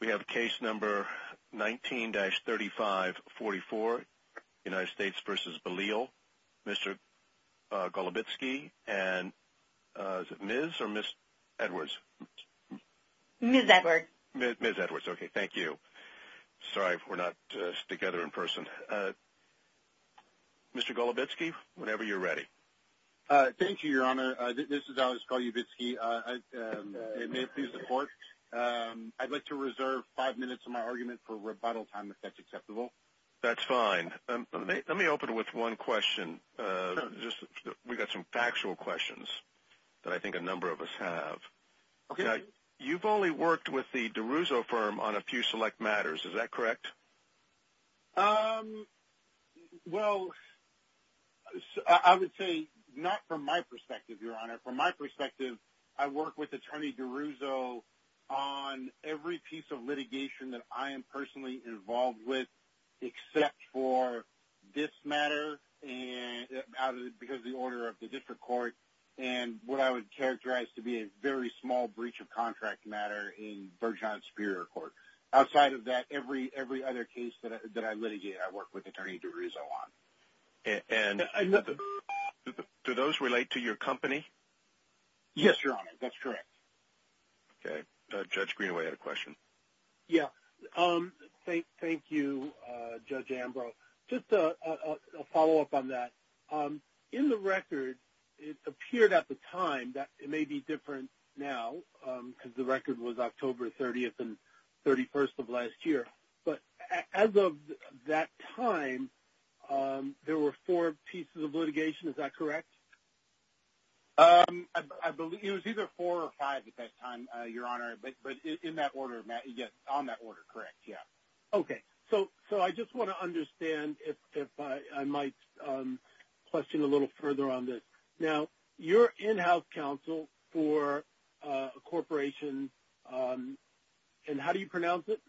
we have case number 19-3544 United States v. Bellille Mr. Golubitsky and Ms. Edwards okay thank you sorry if we're not together in person Mr. Golubitsky whenever you're ready thank you your honor this is Alex Golubitsky I'd like to reserve five minutes of my argument for rebuttal time if that's acceptable that's fine let me open with one question just we got some factual questions that I think a number of us have okay you've only worked with the DeRusso firm on a few not from my perspective your honor from my perspective I work with attorney DeRusso on every piece of litigation that I am personally involved with except for this matter and because the order of the district court and what I would characterize to be a very small breach of contract matter in Bergen Superior Court outside of that every every other case that I litigate I work with attorney DeRusso on and do those relate to your company yes your honor that's correct okay Judge Greenaway had a question yeah um thank you Judge Ambrose just a follow-up on that in the record it appeared at the time that it may be different now because the record was there were four pieces of litigation is that correct I believe it was either four or five at that time your honor but but in that order Matt yes on that order correct yeah okay so so I just want to understand if I might question a little further on this now your in-house counsel for a corporation and how do you pronounce it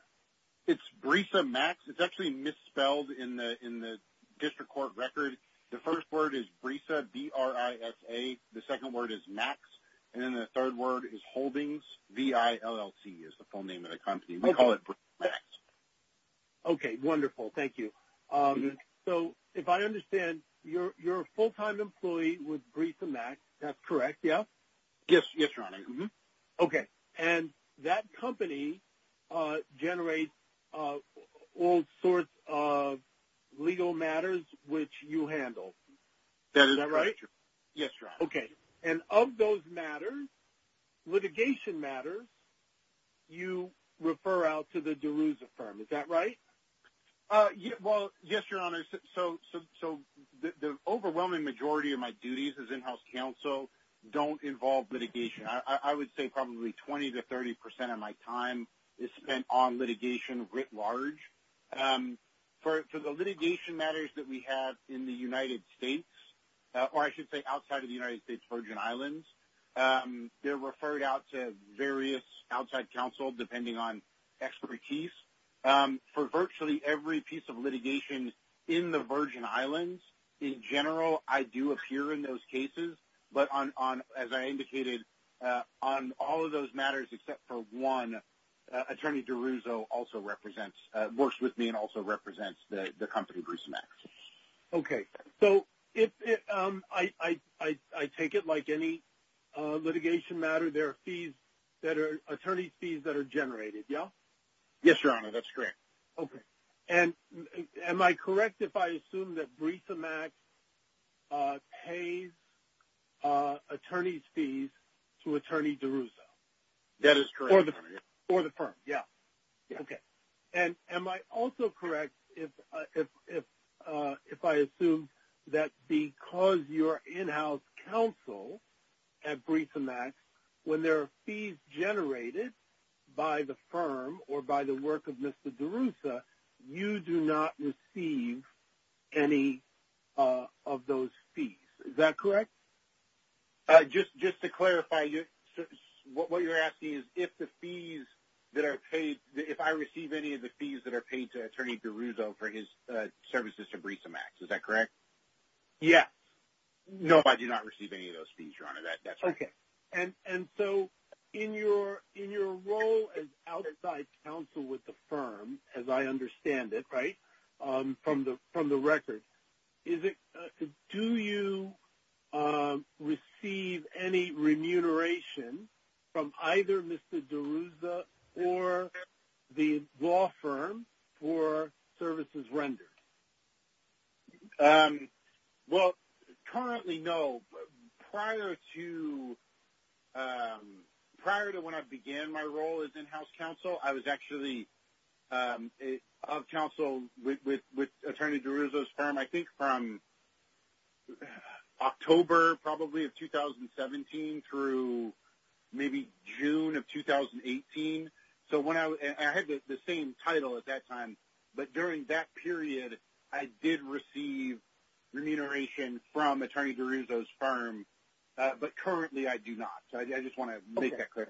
it's Brisa Max it's actually misspelled in the in the district court record the first word is Brisa B-R-I-S-A the second word is Max and then the third word is Holdings V-I-L-L-C is the full name of the company we call it Brisa Max okay wonderful thank you so if I understand you're you're a full-time employee with Brisa Max that's correct yeah yes yes okay and that company generates all sorts of legal matters which you handle that is that right yes okay and of those matters litigation matters you refer out to the Daruza firm is that right yeah well yes your honor so so the overwhelming majority of my duties as in-house counsel don't involve litigation I would say probably 20 to 30 percent of my time is spent on litigation writ large for the litigation matters that we have in the United States or I should say outside of the United States Virgin Islands they're referred out to various outside counsel depending on expertise for virtually every piece of litigation in the Virgin Islands in general I do appear in those on all of those matters except for one attorney Daruza also represents works with me and also represents the company Brisa Max okay so if I take it like any litigation matter there are fees that are attorney fees that are generated yeah yes your honor that's correct okay and am I correct if I assume that Brisa Max pays attorneys fees to attorney Daruza that is for the firm yeah okay and am I also correct if if I assume that because your in-house counsel at Brisa Max when there are fees generated by the firm or by the work of mr. Daruza you do not receive any of those fees is that correct just just to clarify you what what you're asking is if the fees that are paid if I receive any of the fees that are paid to attorney Daruza for his services to Brisa Max is that correct yeah no I do not receive any of those fees your honor that that's okay and and so in your in your role as outside counsel with the firm as I understand it from the from the record is it do you receive any remuneration from either mr. Daruza or the law firm for services rendered well currently no prior to prior to when I began my role as in-house counsel I was actually of counsel with with attorney Daruza's firm I think from October probably of 2017 through maybe June of 2018 so when I had the same title at that time but during that period I did receive remuneration from attorney Daruza's firm but currently I do not so I just want to make that clear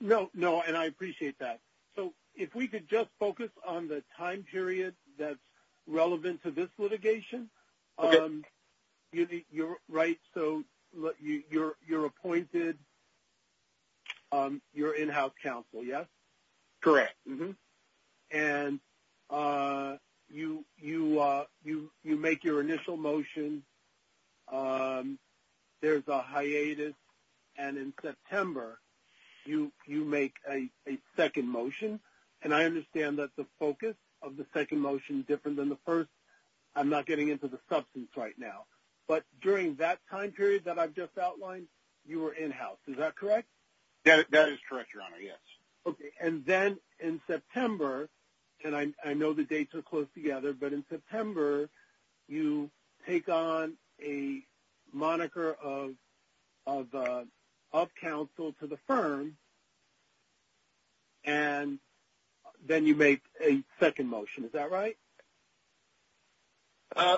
no no and I appreciate that so if we could just focus on the time period that's relevant to this litigation you're right so look you you're you're appointed your in-house counsel yes correct mm-hmm and you you you you make your initial motion there's a hiatus and in September you you make a second motion and I understand that the focus of the second motion different than the first I'm not getting into the substance right now but during that time period that I've just outlined you were in-house is that correct yeah that is correct your honor yes okay and then in September and I know the dates are close together but in September you take on a moniker of of counsel to the firm and then you make a second motion is that right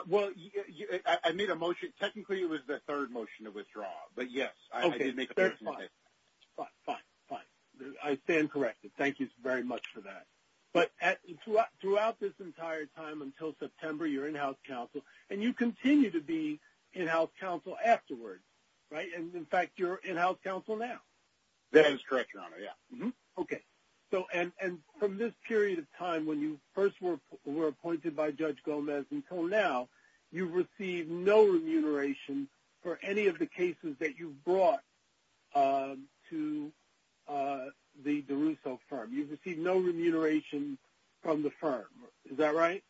well I made a motion technically it was the third motion to withdraw but yes okay that's fine fine fine I stand corrected thank you very much for that but at throughout this entire time until September your in-house counsel and you continue to be in-house counsel afterwards right and in fact you're in house counsel now that is correct your honor yeah okay so and and from this period of time when you first were appointed by Judge Gomez until now you received no remuneration for any of the cases that you brought to the DeRusso firm you've received no remuneration from the firm is that right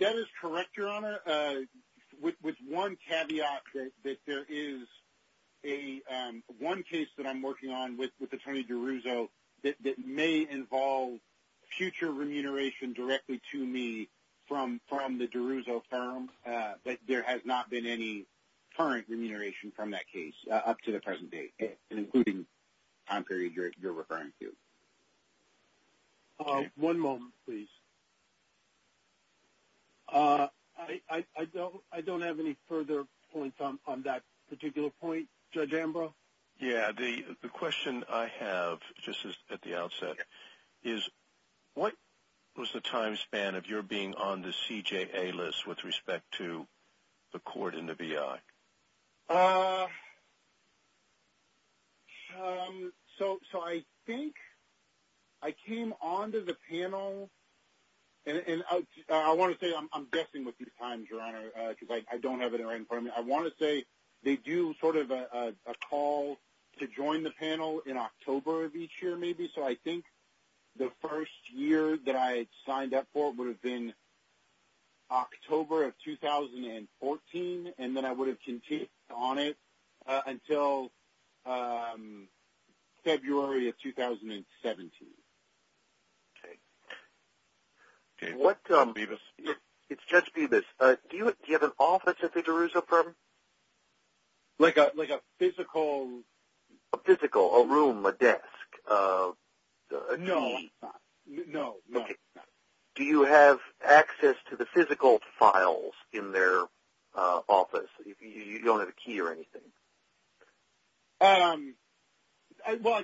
that is correct your honor with one caveat that there is a one case that I'm working on with with Attorney DeRusso that may involve future remuneration directly to me from from the DeRusso firm but there has not been any current remuneration from that case up to the present day including time period you're I don't I don't have any further points on that particular point Judge Ambrose yeah the the question I have just at the outset is what was the time span of your being on the CJA list with respect to the court in the BI so so I think I want to say I'm guessing with these times your honor because I don't have it right in front of me I want to say they do sort of a call to join the panel in October of each year maybe so I think the first year that I signed up for it would have been October of 2014 and then I would have continued on it until February of 2017 okay what I'm Beavis it's just be this do you have an office at the DeRusso firm like a like a physical a physical a room a desk no no okay do you have access to the physical files in their office you don't have a I don't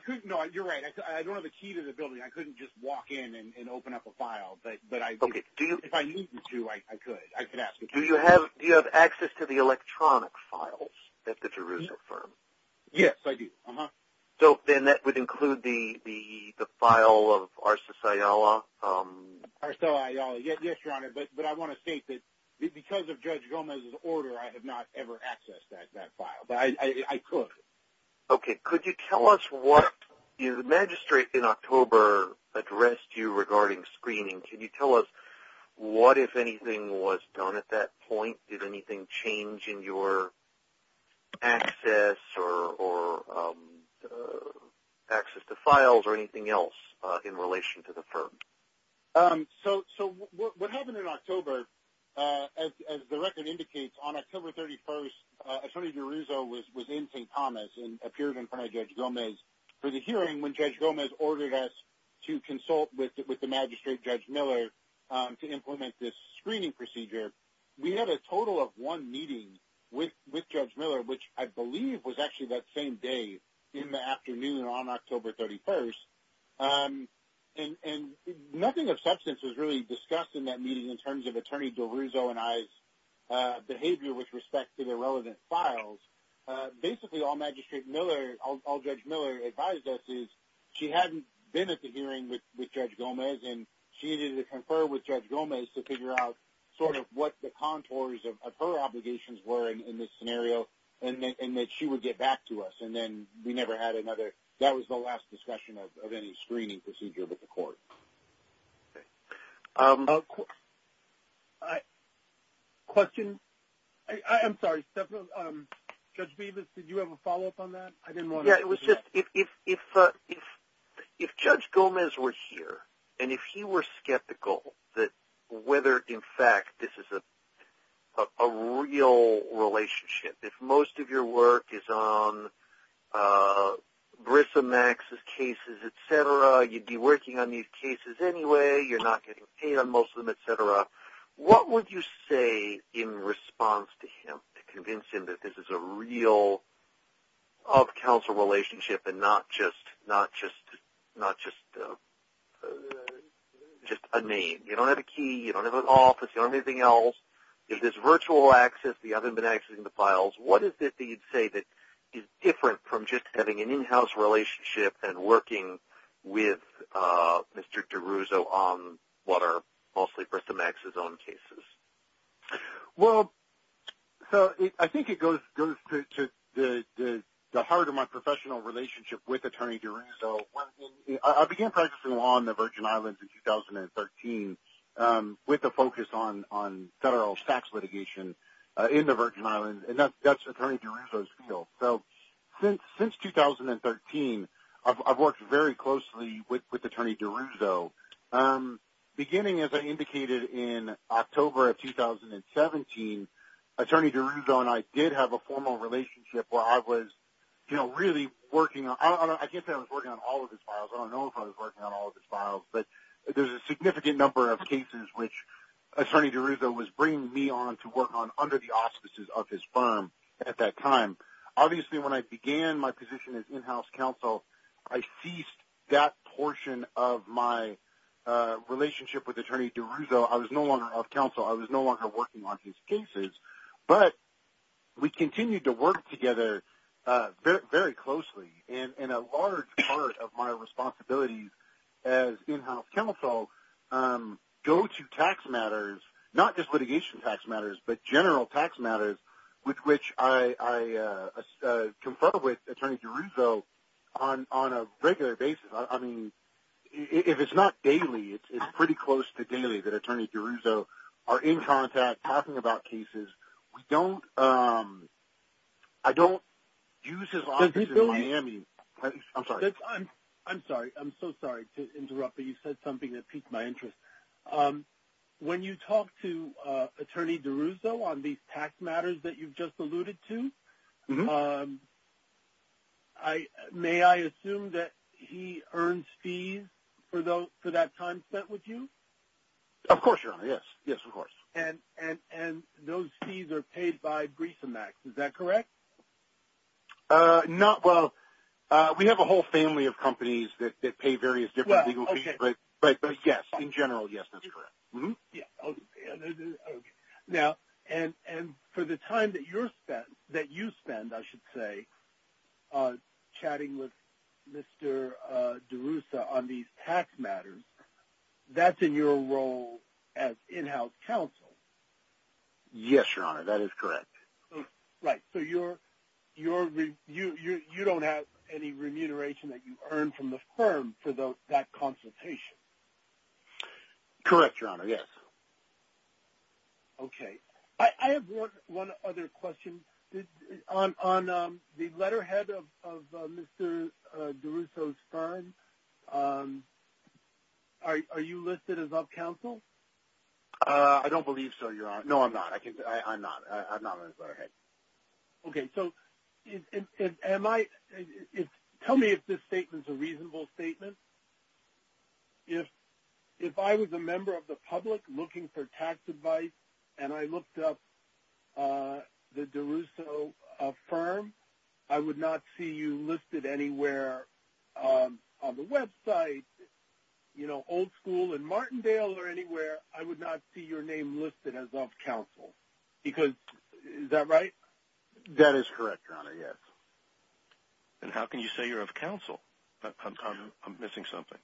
have a key to the building I couldn't just walk in and open up a file but but I do you if I need to I could I could ask do you have you have access to the electronic files at the DeRusso firm yes I do uh-huh so then that would include the the the file of our society are so I yes your honor but but I want to state that because of judge Gomez's order I have not ever accessed that that I could okay could you tell us what you the magistrate in October addressed you regarding screening can you tell us what if anything was done at that point did anything change in your access or access to files or anything else in relation to so what happened in October as the record indicates on October 31st attorney DeRusso was within st. Thomas and appeared in front of judge Gomez for the hearing when judge Gomez ordered us to consult with the magistrate judge Miller to implement this screening procedure we had a total of one meeting with with judge Miller which I believe was actually that same day in the nothing of substance was really discussed in that meeting in terms of attorney DeRusso and I's behavior with respect to the relevant files basically all magistrate Miller all judge Miller advised us is she hadn't been at the hearing with with judge Gomez and she needed to confer with judge Gomez to figure out sort of what the contours of her obligations were in this scenario and that she would get back to us and then we never had another that was the discussion of any screening procedure with the court question I'm sorry judge Beavis did you have a follow-up on that I didn't want it was just if if judge Gomez were here and if he were skeptical that whether in fact this is a real relationship if most of your work is on Brissa Max's cases etc you'd be working on these cases anyway you're not getting paid on most of them etc what would you say in response to him to convince him that this is a real of counsel relationship and not just not just not just just a name you don't have a key you don't have an office or anything else if this virtual access the other than accessing the files what is it that you'd say that is different from just having an in-house relationship and working with mr. DeRusso on what are mostly Brissa Max's own cases well so I think it goes to the heart of my professional relationship with attorney DeRusso I began practicing law on the Virgin Islands in 2013 with the focus on on federal tax litigation in the Virgin Islands and that's attorney DeRusso's field so since since 2013 I've worked very closely with attorney DeRusso beginning as I indicated in October of 2017 attorney DeRusso and I did have a formal relationship where I was you know really working on I can't say I was working on all of his files I don't know if I was working on all of his files but there's a significant number of cases which attorney DeRusso was bringing me on to work on under the of his firm at that time obviously when I began my position as in-house counsel I ceased that portion of my relationship with attorney DeRusso I was no longer of counsel I was no longer working on his cases but we continued to work together very closely in a large part of my responsibilities as in-house counsel go to tax matters not just litigation tax matters but general tax matters with which I conferred with attorney DeRusso on on a regular basis I mean if it's not daily it's pretty close to daily that attorney DeRusso are in contact talking about cases we don't I don't use his office in Miami I'm sorry I'm sorry I'm my interest when you talk to attorney DeRusso on these tax matters that you've just alluded to I may I assume that he earns fees for those for that time spent with you of course your honor yes yes of course and and and those fees are paid by Griesemax is that correct not well we have a whole family of companies that general yes that's correct now and and for the time that you're spent that you spend I should say chatting with mr. DeRusso on these tax matters that's in your role as in-house counsel yes your honor that is correct right so you're you're you you don't have any remuneration that you earn from the firm for those that consultation correct your honor yes okay I have one other question on the letterhead of mr. DeRusso's firm are you listed as up counsel I don't believe so your honor no I'm not I can I'm not okay so am I tell me if this statement is a reasonable statement if if I was a member of the public looking for tax advice and I looked up the DeRusso firm I would not see you listed anywhere on the website you know old-school and Martindale or anywhere I would not see your name listed as of counsel because is that that is correct your honor yes and how can you say you're of counsel I'm missing something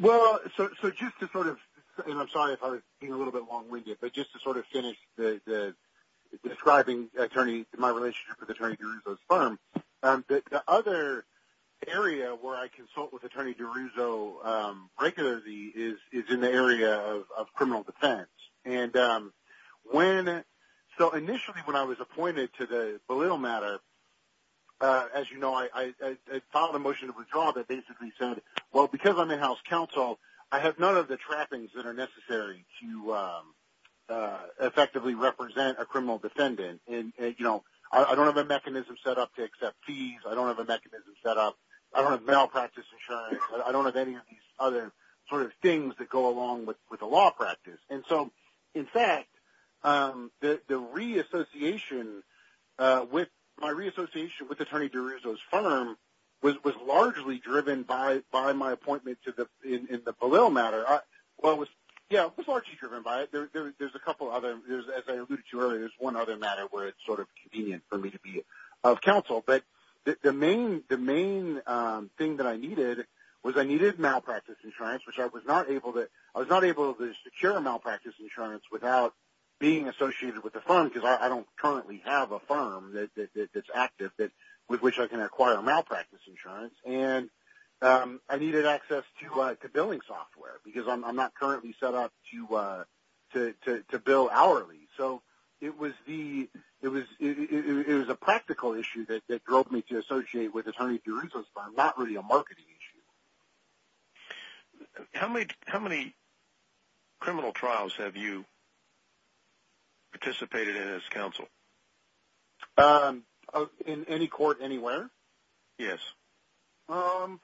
well so just to sort of and I'm sorry if I was being a little bit long-winded but just to sort of finish the describing attorney my relationship with attorney DeRusso's firm the other area where I consult with attorney DeRusso regularly is in the area of criminal defense and when so initially when I was appointed to the little matter as you know I filed a motion to withdraw that basically said well because I'm in house counsel I have none of the trappings that are necessary to effectively represent a criminal defendant and you know I don't have a mechanism set up to accept fees I don't have a mechanism set up I don't have malpractice insurance I don't have any of these other sort of things that go along with with a law practice and so in fact the reassociation with my reassociation with attorney DeRusso's firm was largely driven by by my appointment to the in the Palil matter well was yeah was largely driven by it there's a couple other there's as I alluded to earlier is one other matter where it's sort of convenient for me to be of counsel but the main the main thing that I needed was I needed malpractice insurance which I was not able to I was not able to secure malpractice insurance without being associated with the fund because I don't currently have a firm that's active that with which I can acquire malpractice insurance and I needed access to like a billing software because I'm not currently set up to to bill hourly so it was the it was it was a practical issue that that drove me to associate with attorney DeRusso's firm not really a trials have you participated in as counsel in any court anywhere yes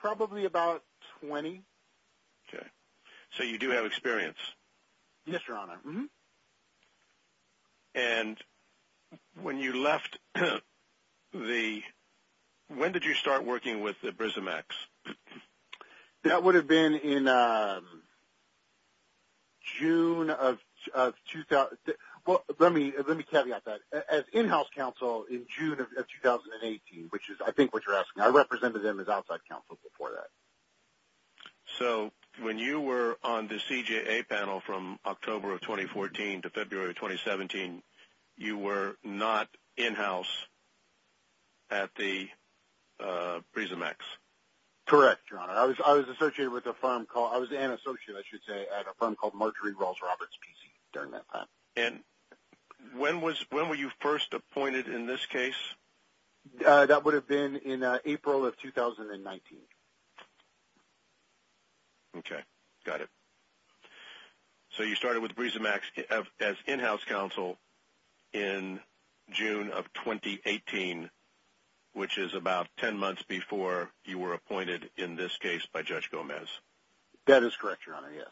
probably about 20 okay so you do have experience yes your honor and when you left the when that would have been in June of 2000 well let me let me caveat that as in house counsel in June of 2018 which is I think what you're asking I represented them as outside counsel before that so when you were on the CJA panel from October of 2014 to February of 2017 you were not in-house at the prism X correct your honor I was I was associated with a firm call I was an associate I should say at a firm called Marjorie Rawls Roberts PC during that time and when was when were you first appointed in this case that would have been in April of 2019 okay got it so you started with breezy max as in-house counsel in June of 2018 which is about 10 months before you were appointed in this case by Judge Gomez that is correct your honor yes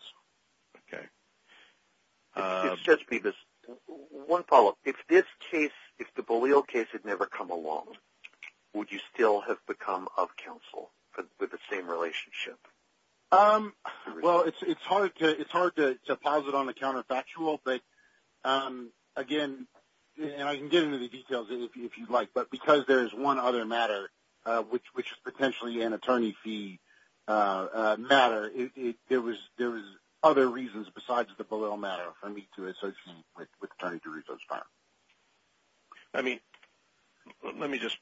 okay just be this one follow-up if this case if the polio case had never come along would you still have become of counsel but with the same relationship um well it's hard to it's hard to deposit on the counterfactual but again and I can get into the details if you'd like but because there's one other matter which which is potentially an attorney fee matter it there was there was other reasons besides the below matter for me to associate with turning to resource fire I mean let me just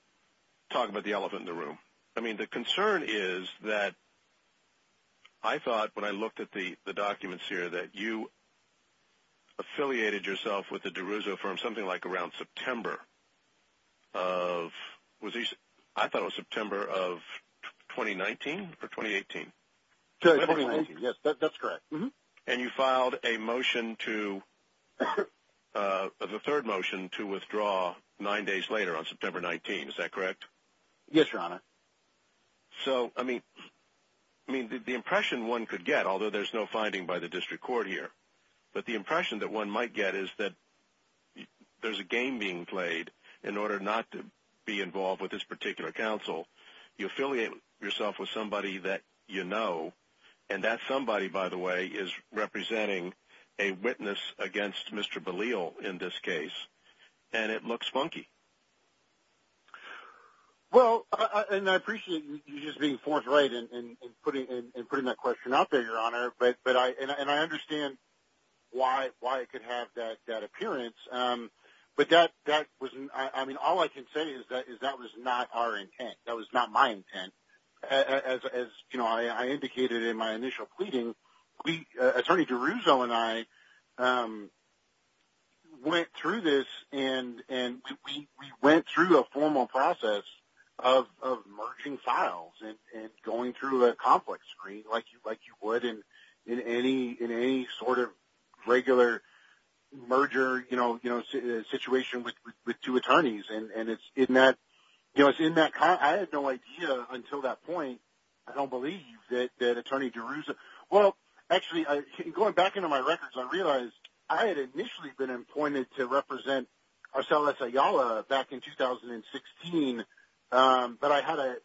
talk about the elephant in the room I mean the concern is that I thought when I looked at the documents here that you affiliated yourself with the DeRusso firm something like around September of was he I thought was September of 2019 for 2018 yes that's correct mm-hmm and you filed a motion to the third motion to withdraw nine days later on September 19 is that correct yes your honor so I mean I mean the impression one could get although there's no finding by the district court here but the impression that one might get is that there's a game being played in order not to be involved with this particular counsel you affiliate yourself with somebody that you know and that somebody by the way is representing a witness against mr. Belial in this case and it looks funky well and I appreciate you just being forthright and putting in and putting that question out there your honor but but I and I understand why why it could have that that appearance but that that wasn't I mean all I can say is that is that was not our intent that was not my intent as you know I indicated in my went through a formal process of merging files and going through a complex screen like you like you would in in any in any sort of regular merger you know you know situation with two attorneys and and it's in that you know it's in that car I had no idea until that point I don't believe that that attorney DeRusso well actually I going back into my records I realized I had back in 2016 but I had a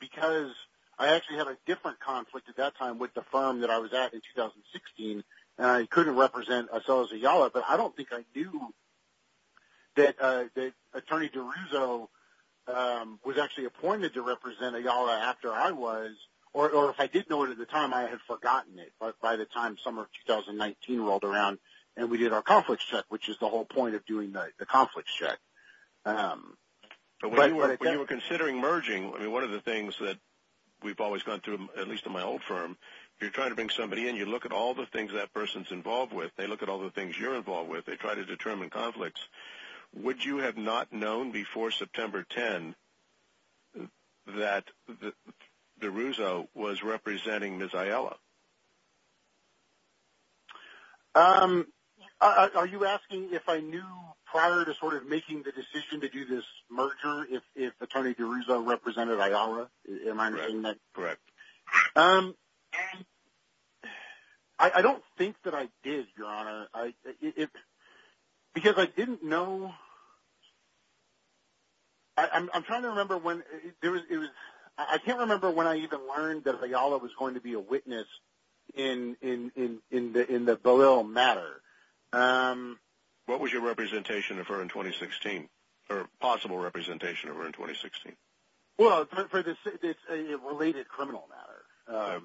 because I actually had a different conflict at that time with the firm that I was at in 2016 and I couldn't represent a cell as a yala but I don't think I knew that attorney DeRusso was actually appointed to represent a yala after I was or if I didn't know it at the time I had forgotten it but by the time summer of 2019 rolled around and we did our point of doing the conflict check but when you were considering merging I mean one of the things that we've always gone through at least in my old firm you're trying to bring somebody and you look at all the things that person's involved with they look at all the things you're involved with they try to determine conflicts would you have not known before September 10 that the DeRusso was representing Miss Ayala are you asking if I knew prior to sort of making the decision to do this merger if attorney DeRusso represented a yala am I correct I don't think that I did your honor I because I didn't know I'm trying to remember when there was I can't remember when I even learned that the yala was going to be a witness in in in the in the below matter what was your representation of her in 2016 or possible representation of her in 2016 well related criminal matter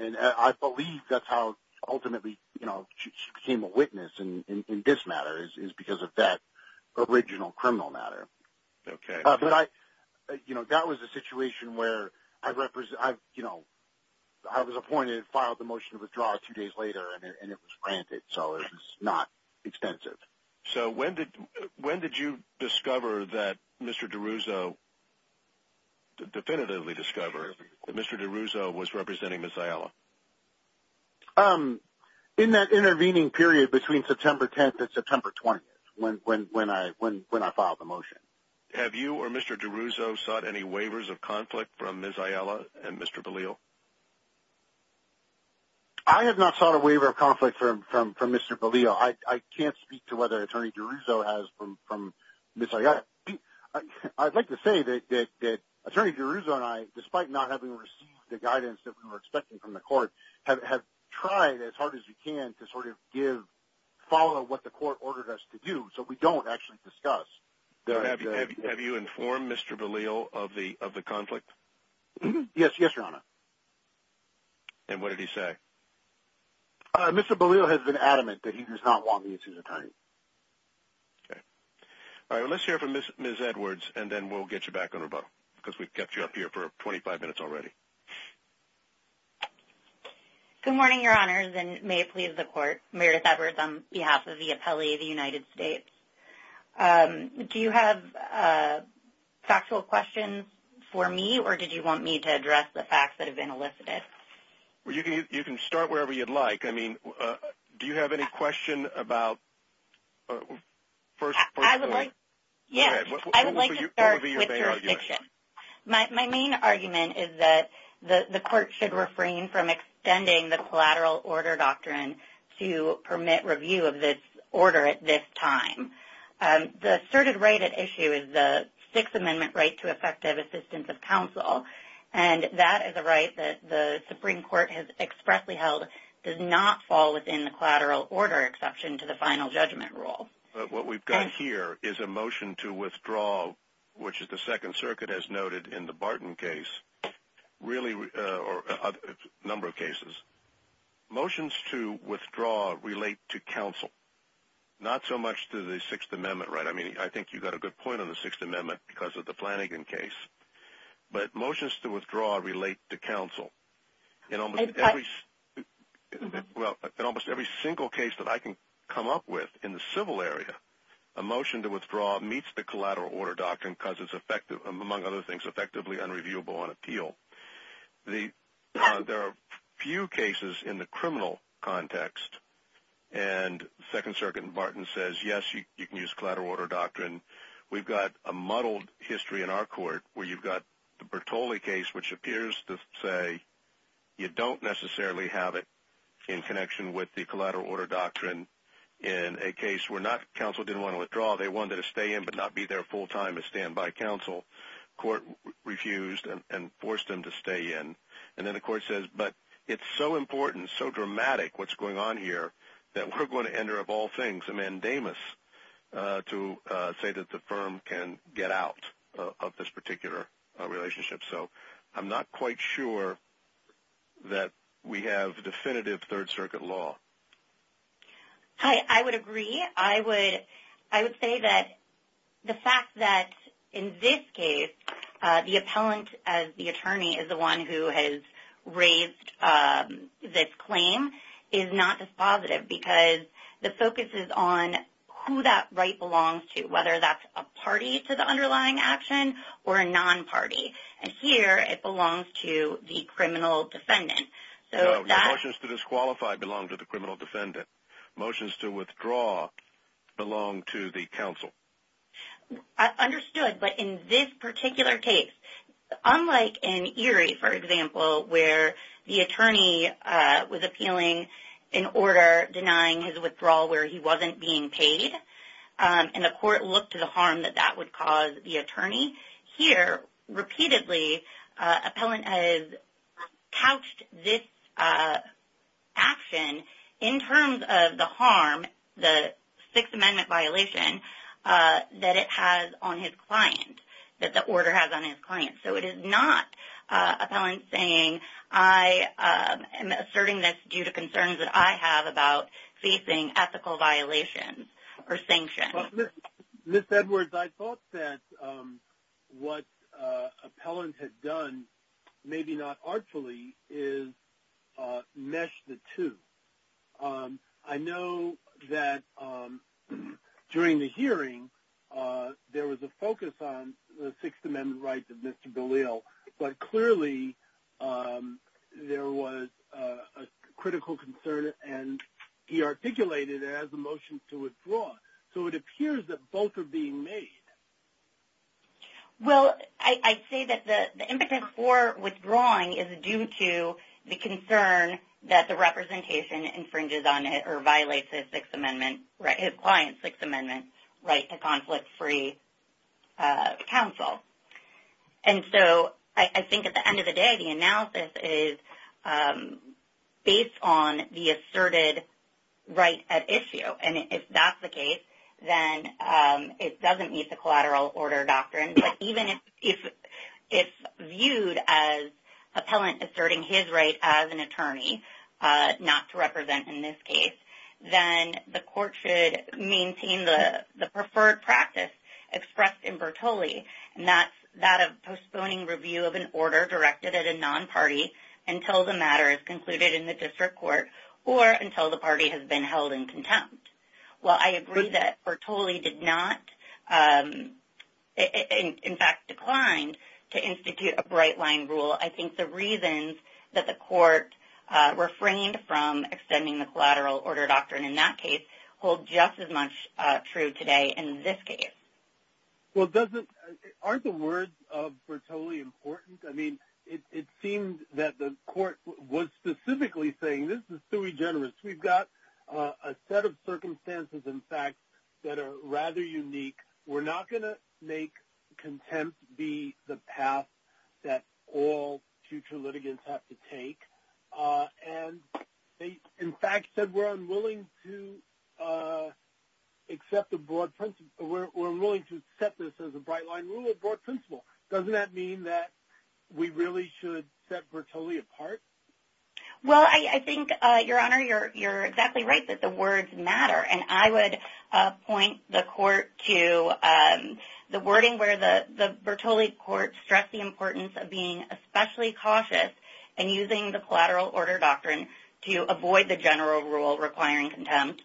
and I believe that's how ultimately you know she became a witness and in this matter is because of that original criminal matter okay but I you know that was a situation where I represent I've you know I was appointed and filed the motion to withdraw two days later and it was granted so it's not expensive so when did when did you discover that mr. DeRusso definitively discover mr. DeRusso was representing miss ayala um in that intervening period between September 10th at September 20th when when I when when I filed the motion have you or mr. DeRusso sought any waivers of conflict from miss ayala and mr. Belial I have not sought a waiver of conflict from from from mr. Belial I can't speak to whether attorney DeRusso has from from miss ayala I'd like to say that attorney DeRusso and I despite not having received the guidance that we were expecting from the court have tried as hard as we can to sort of give follow what the court ordered us to do so we don't actually discuss have you informed mr. Belial of the of the conflict yes yes your honor and what did he say mr. Belial has been adamant that he does not want me as his attorney all right let's hear from miss miss Edwards and then we'll get you back on her boat because we've kept you up here for 25 minutes already good morning your honors and may it please the court Meredith Edwards on behalf of the appellee of the United States do you have factual questions for me or did you want me to address the facts that have been elicited well you can you can start wherever you'd like I mean do you have any question about my main argument is that the the court should refrain from extending the collateral order doctrine to permit review of this order at this time the asserted right at issue is the Sixth Amendment right to effective assistance of counsel and that is a right that the Supreme Court has expressly held does not fall within the collateral order exception to the final judgment rule what we've got here is a motion to withdraw which is the Second cases motions to withdraw relate to counsel not so much to the Sixth Amendment right I mean I think you've got a good point on the Sixth Amendment because of the Flanagan case but motions to withdraw relate to counsel you know every well in almost every single case that I can come up with in the civil area a motion to withdraw meets the collateral order doctrine because it's effective among other things effectively unreviewable on appeal the there are few cases in the criminal context and Second Circuit Martin says yes you can use collateral order doctrine we've got a muddled history in our court where you've got the Bertoli case which appears to say you don't necessarily have it in connection with the collateral order doctrine in a case we're not counsel didn't want to withdraw they wanted to stay in but not be there full-time a standby counsel court refused and forced them to stay in and then of course says but it's so important so dramatic what's going on here that we're going to enter of all things a mandamus to say that the firm can get out of this particular relationship so I'm not quite sure that we have definitive Third Circuit law hi I would agree I would I would say that the fact that in this case the appellant as the attorney is the one who has raised this claim is not dispositive because the focus is on who that right belongs to whether that's a party to the underlying action or a non-party and here it belongs to the criminal defendant so the motions to disqualify belong to the criminal defendant motions to withdraw belong to the counsel I understood but in this particular case unlike in Erie for example where the attorney was appealing in order denying his withdrawal where he wasn't being paid and the court looked to the harm that that would cause the in terms of the harm the Sixth Amendment violation that it has on his client that the order has on his client so it is not a talent saying I am asserting this due to concerns that I have about facing ethical violations or sanctions this Edwards I thought that what appellant had done maybe not artfully is mesh the two I know that during the hearing there was a focus on the Sixth Amendment rights of mr. Galil but clearly there was a critical concern and he articulated as a motion to withdraw so it appears that both are well I say that the impetus for withdrawing is due to the concern that the representation infringes on it or violates a Sixth Amendment right his client Sixth Amendment right to conflict-free counsel and so I think at the end of the day the analysis is based on the asserted right at issue and if that's the case then it doesn't meet the collateral order doctrine but even if it's viewed as appellant asserting his right as an attorney not to represent in this case then the court should maintain the the preferred practice expressed in Bertoli and that's that of postponing review of an order directed at a non-party until the matter is concluded in the district court or until the party has been held in contempt well I agree that Bertoli did not in fact declined to institute a bright-line rule I think the reasons that the court refrained from extending the collateral order doctrine in that case hold just as much true today in this case well doesn't aren't the words of Bertoli important I mean it seemed that the court was specifically saying this is sui generis we've got a set of circumstances in fact that are rather unique we're not going to make contempt be the path that all future litigants have to take and they in fact said we're unwilling to accept the broad principle we're willing to set this as a bright line rule a broad principle doesn't that mean that we really should set Bertoli apart well I think your honor you're you're exactly right that the words matter and I would point the court to the wording where the the Bertoli court stressed the importance of being especially cautious and using the collateral order doctrine to avoid the general rule requiring contempt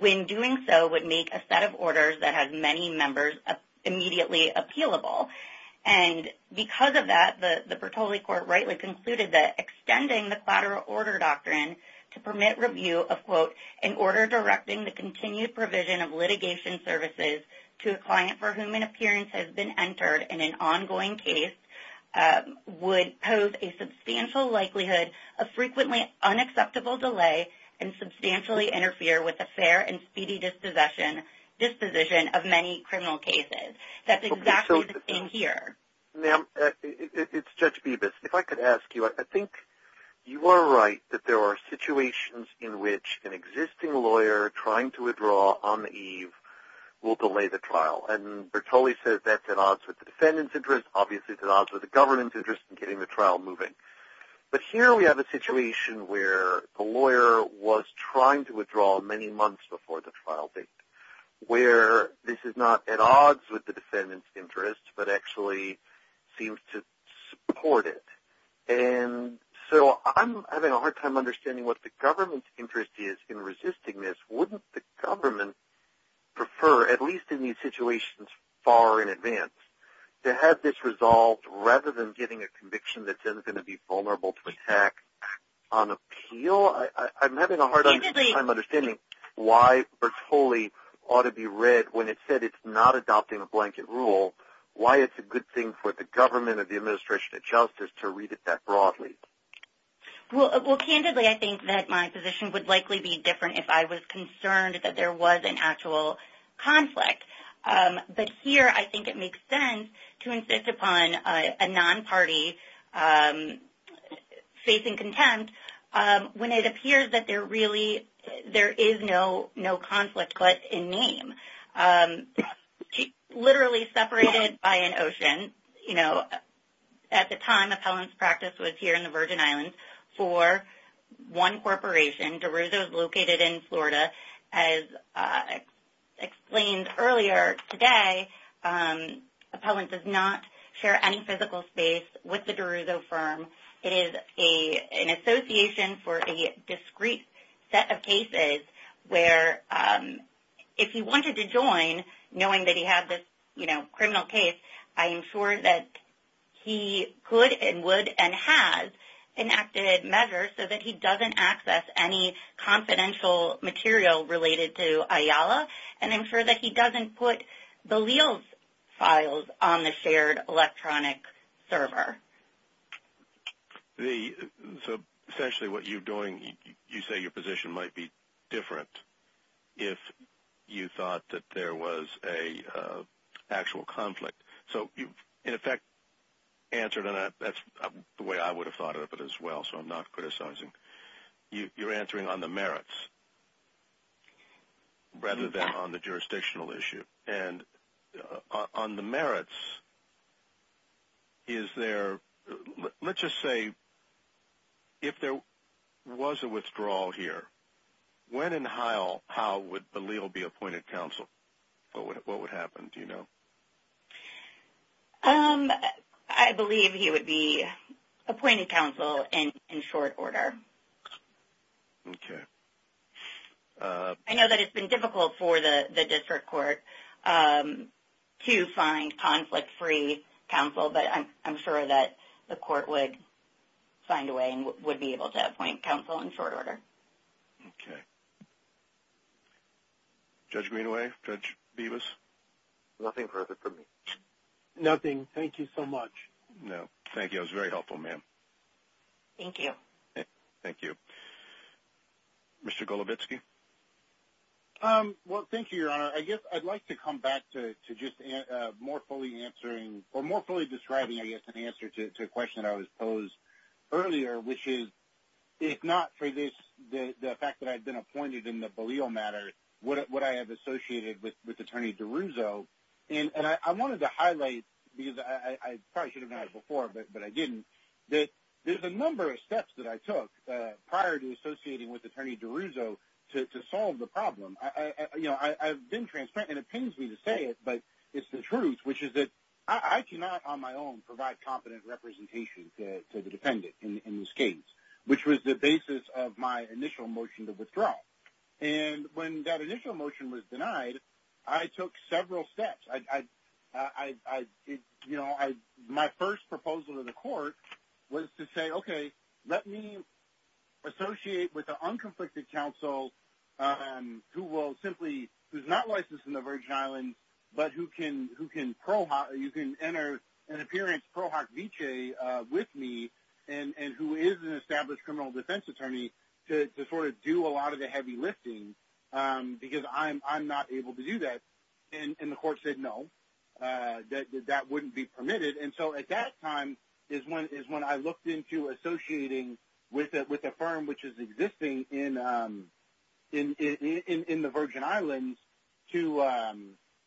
when doing so would make a set of orders that because of that the Bertoli court rightly concluded that extending the collateral order doctrine to permit review of quote in order directing the continued provision of litigation services to a client for whom an appearance has been entered in an ongoing case would pose a substantial likelihood of frequently unacceptable delay and substantially interfere with a fair and speedy disposition disposition of many criminal cases that's here now it's judge Beavis if I could ask you I think you are right that there are situations in which an existing lawyer trying to withdraw on the eve will delay the trial and Bertoli says that's at odds with the defendant's interest obviously the odds with the government's interest in getting the trial moving but here we have a situation where the lawyer was trying to withdraw many months before the trial date where this is not at odds with the defendant's interest but actually seems to support it and so I'm having a hard time understanding what the government's interest is in resisting this wouldn't the government prefer at least in these situations far in advance to have this resolved rather than getting a conviction that says it's going to be vulnerable to attack on appeal I'm having a hard time understanding why Bertoli ought to be read when it said it's not adopting a blanket rule why it's a good thing for the government of the administration of justice to read it that broadly well candidly I think that my position would likely be different if I was concerned that there was an actual conflict but here I think it makes sense to insist upon a non-party facing contempt when it appears that there really there is no no conflict but in name literally separated by an ocean you know at the time appellant's practice was here in the Virgin Islands for one corporation DeRusso is located in Florida as explained earlier today appellant does not share any physical space with the DeRusso firm it is a an set of cases where if he wanted to join knowing that he had this you know criminal case I am sure that he could and would and has enacted measures so that he doesn't access any confidential material related to Ayala and ensure that he doesn't put the Leal's files on the shared electronic server the so you say your position might be different if you thought that there was a actual conflict so you in effect answer to that that's the way I would have thought of it as well so I'm not criticizing you you're answering on the merits rather than on the jurisdictional issue and on the merits is there let's say if there was a withdrawal here when and how how would believe will be appointed counsel but what would happen do you know um I believe he would be appointed counsel and in short order okay I know that it's been difficult for the district court to find conflict-free counsel but I'm sure that the court would find a way and would be able to appoint counsel in short order okay judge Greenaway judge Beavis nothing perfect for me nothing thank you so much no thank you I was very helpful ma'am thank you thank you mr. Golubetsky well thank you your honor I guess I'd like to come back to just more fully answering or more fully describing I guess an answer to a question I was posed earlier which is if not for this the fact that I've been appointed in the polio matter what I have associated with with attorney DeRusso and I wanted to highlight because I probably should have known it before but but I didn't that there's a number of steps that I took prior to associating with attorney DeRusso to solve the problem I you know I've been transparent and it pains me to say it but it's the truth which is that I cannot on my own provide competent representation to the defendant in this case which was the basis of my initial motion to withdraw and when that initial motion was denied I took several steps I I you know I my first proposal to the court was to say okay let me associate with the unconflicted counsel who will simply who's not licensed in the Virgin Islands but who can who can pro hot you can enter an appearance pro hoc vichy with me and and who is an established criminal defense attorney to sort of do a lot of the heavy lifting because I'm I'm not able to do that and the court said no that that wouldn't be permitted and so at that time is when is when I looked into associating with it with a firm which is existing in in in the Virgin Islands to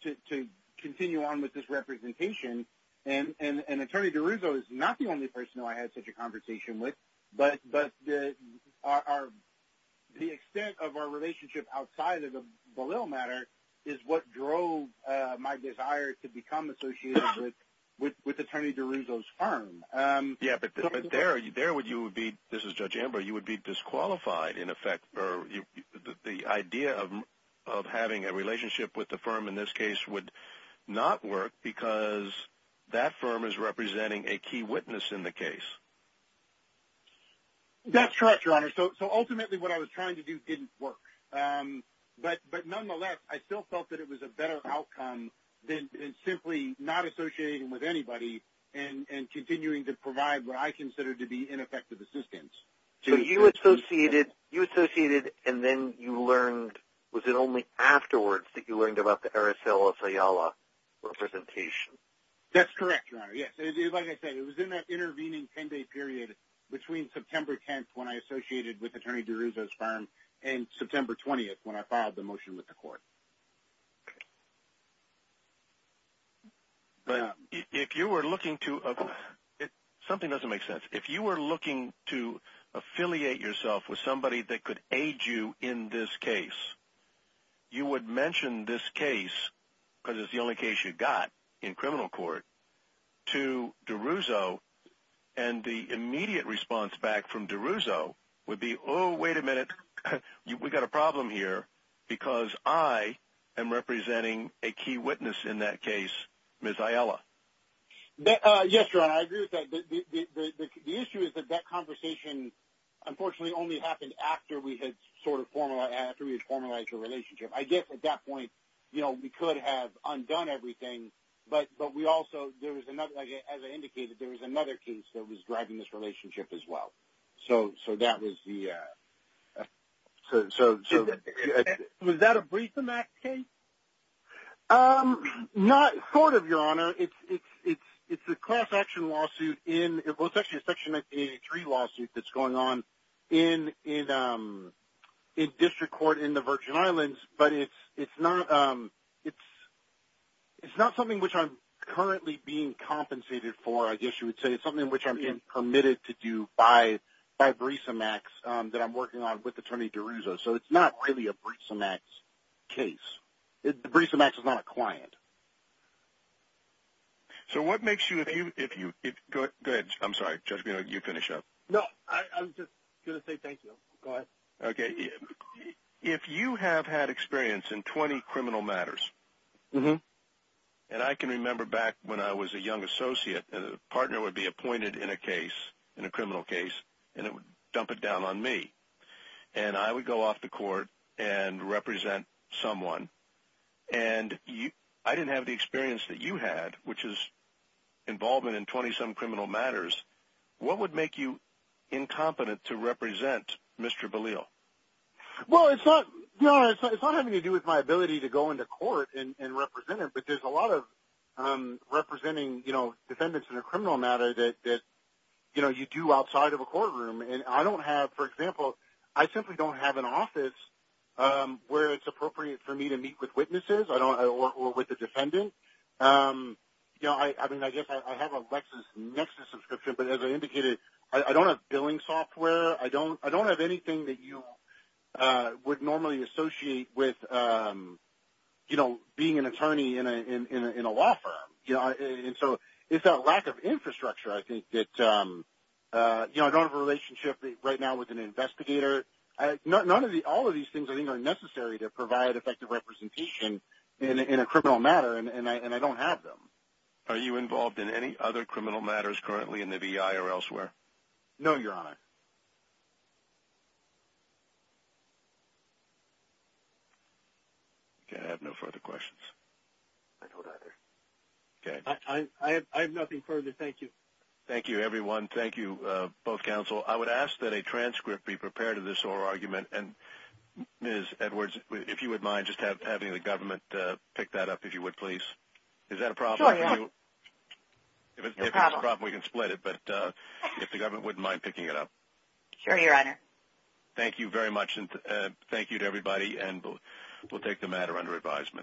to continue on with this representation and an attorney DeRusso is not the only person who I had such a conversation with but but our the extent of our relationship outside of the little matter is what drove my desire to become associated with with attorney DeRusso's firm yeah but there are you there would you would be this is judge amber you would be disqualified in fact or the idea of having a relationship with the firm in this case would not work because that firm is representing a key witness in the case that's correct your honor so so ultimately what I was trying to do didn't work but but nonetheless I still felt that it was a better outcome than simply not associating with anybody and and continuing to provide what I associated and then you learned was it only afterwards that you learned about the Aracelis Ayala representation that's correct intervening 10-day period between September 10th when I associated with attorney DeRusso's firm and September 20th when I filed the motion with the court but if you were looking to it something doesn't make sense if you were looking to affiliate yourself with somebody that could aid you in this case you would mention this case because it's the only case you got in criminal court to DeRusso and the immediate response back from DeRusso would be oh wait a minute we got a problem here because I am representing a key witness in that conversation unfortunately only happened after we had sort of formalized a relationship I guess at that point you know we could have undone everything but but we also there was another as I indicated there was another case that was driving this relationship as well so so that was the so was that a brief in that case not court of your honor it's it's it's it's a class-action lawsuit in section 83 lawsuit that's going on in in in district court in the Virgin Islands but it's it's not it's it's not something which I'm currently being compensated for I guess you would say it's something which I'm permitted to do by by brisa max that I'm working on with attorney DeRusso so it's not really a brisa max case the brisa max is not a client so what makes you if you if you good good I'm sorry judge you know you finish up no okay if you have had experience in 20 criminal matters mm-hmm and I can remember back when I was a young associate and a partner would be appointed in a case in a criminal case and it would dump it down on me and I would go off the court and represent someone and you I didn't have the experience that you had which is involvement in 20-some criminal matters what would make you incompetent to represent mr. Valeo well it's not you know it's not having to do with my ability to go into court and represent it but there's a lot of representing you know defendants in a criminal matter that you know you do outside of a courtroom and I don't have for example I simply don't have an office where it's appropriate for me to meet with witnesses I don't know or with the I have a Lexus Nexus subscription but as I indicated I don't have billing software I don't I don't have anything that you would normally associate with you know being an attorney in a law firm yeah and so it's a lack of infrastructure I think that you know I don't have a relationship right now with an investigator I none of the all of these things I think are necessary to provide effective representation in a criminal matter and I don't have them are you involved in any other criminal matters currently in the VI or elsewhere no your honor can't have no further questions okay I have nothing further thank you thank you everyone thank you both counsel I would ask that a transcript be prepared of this or argument and miss Edwards if you would mind just have having the please is that a problem we can split it but if the government wouldn't mind picking it up sure your honor thank you very much and thank you to everybody and we'll take the matter under advisement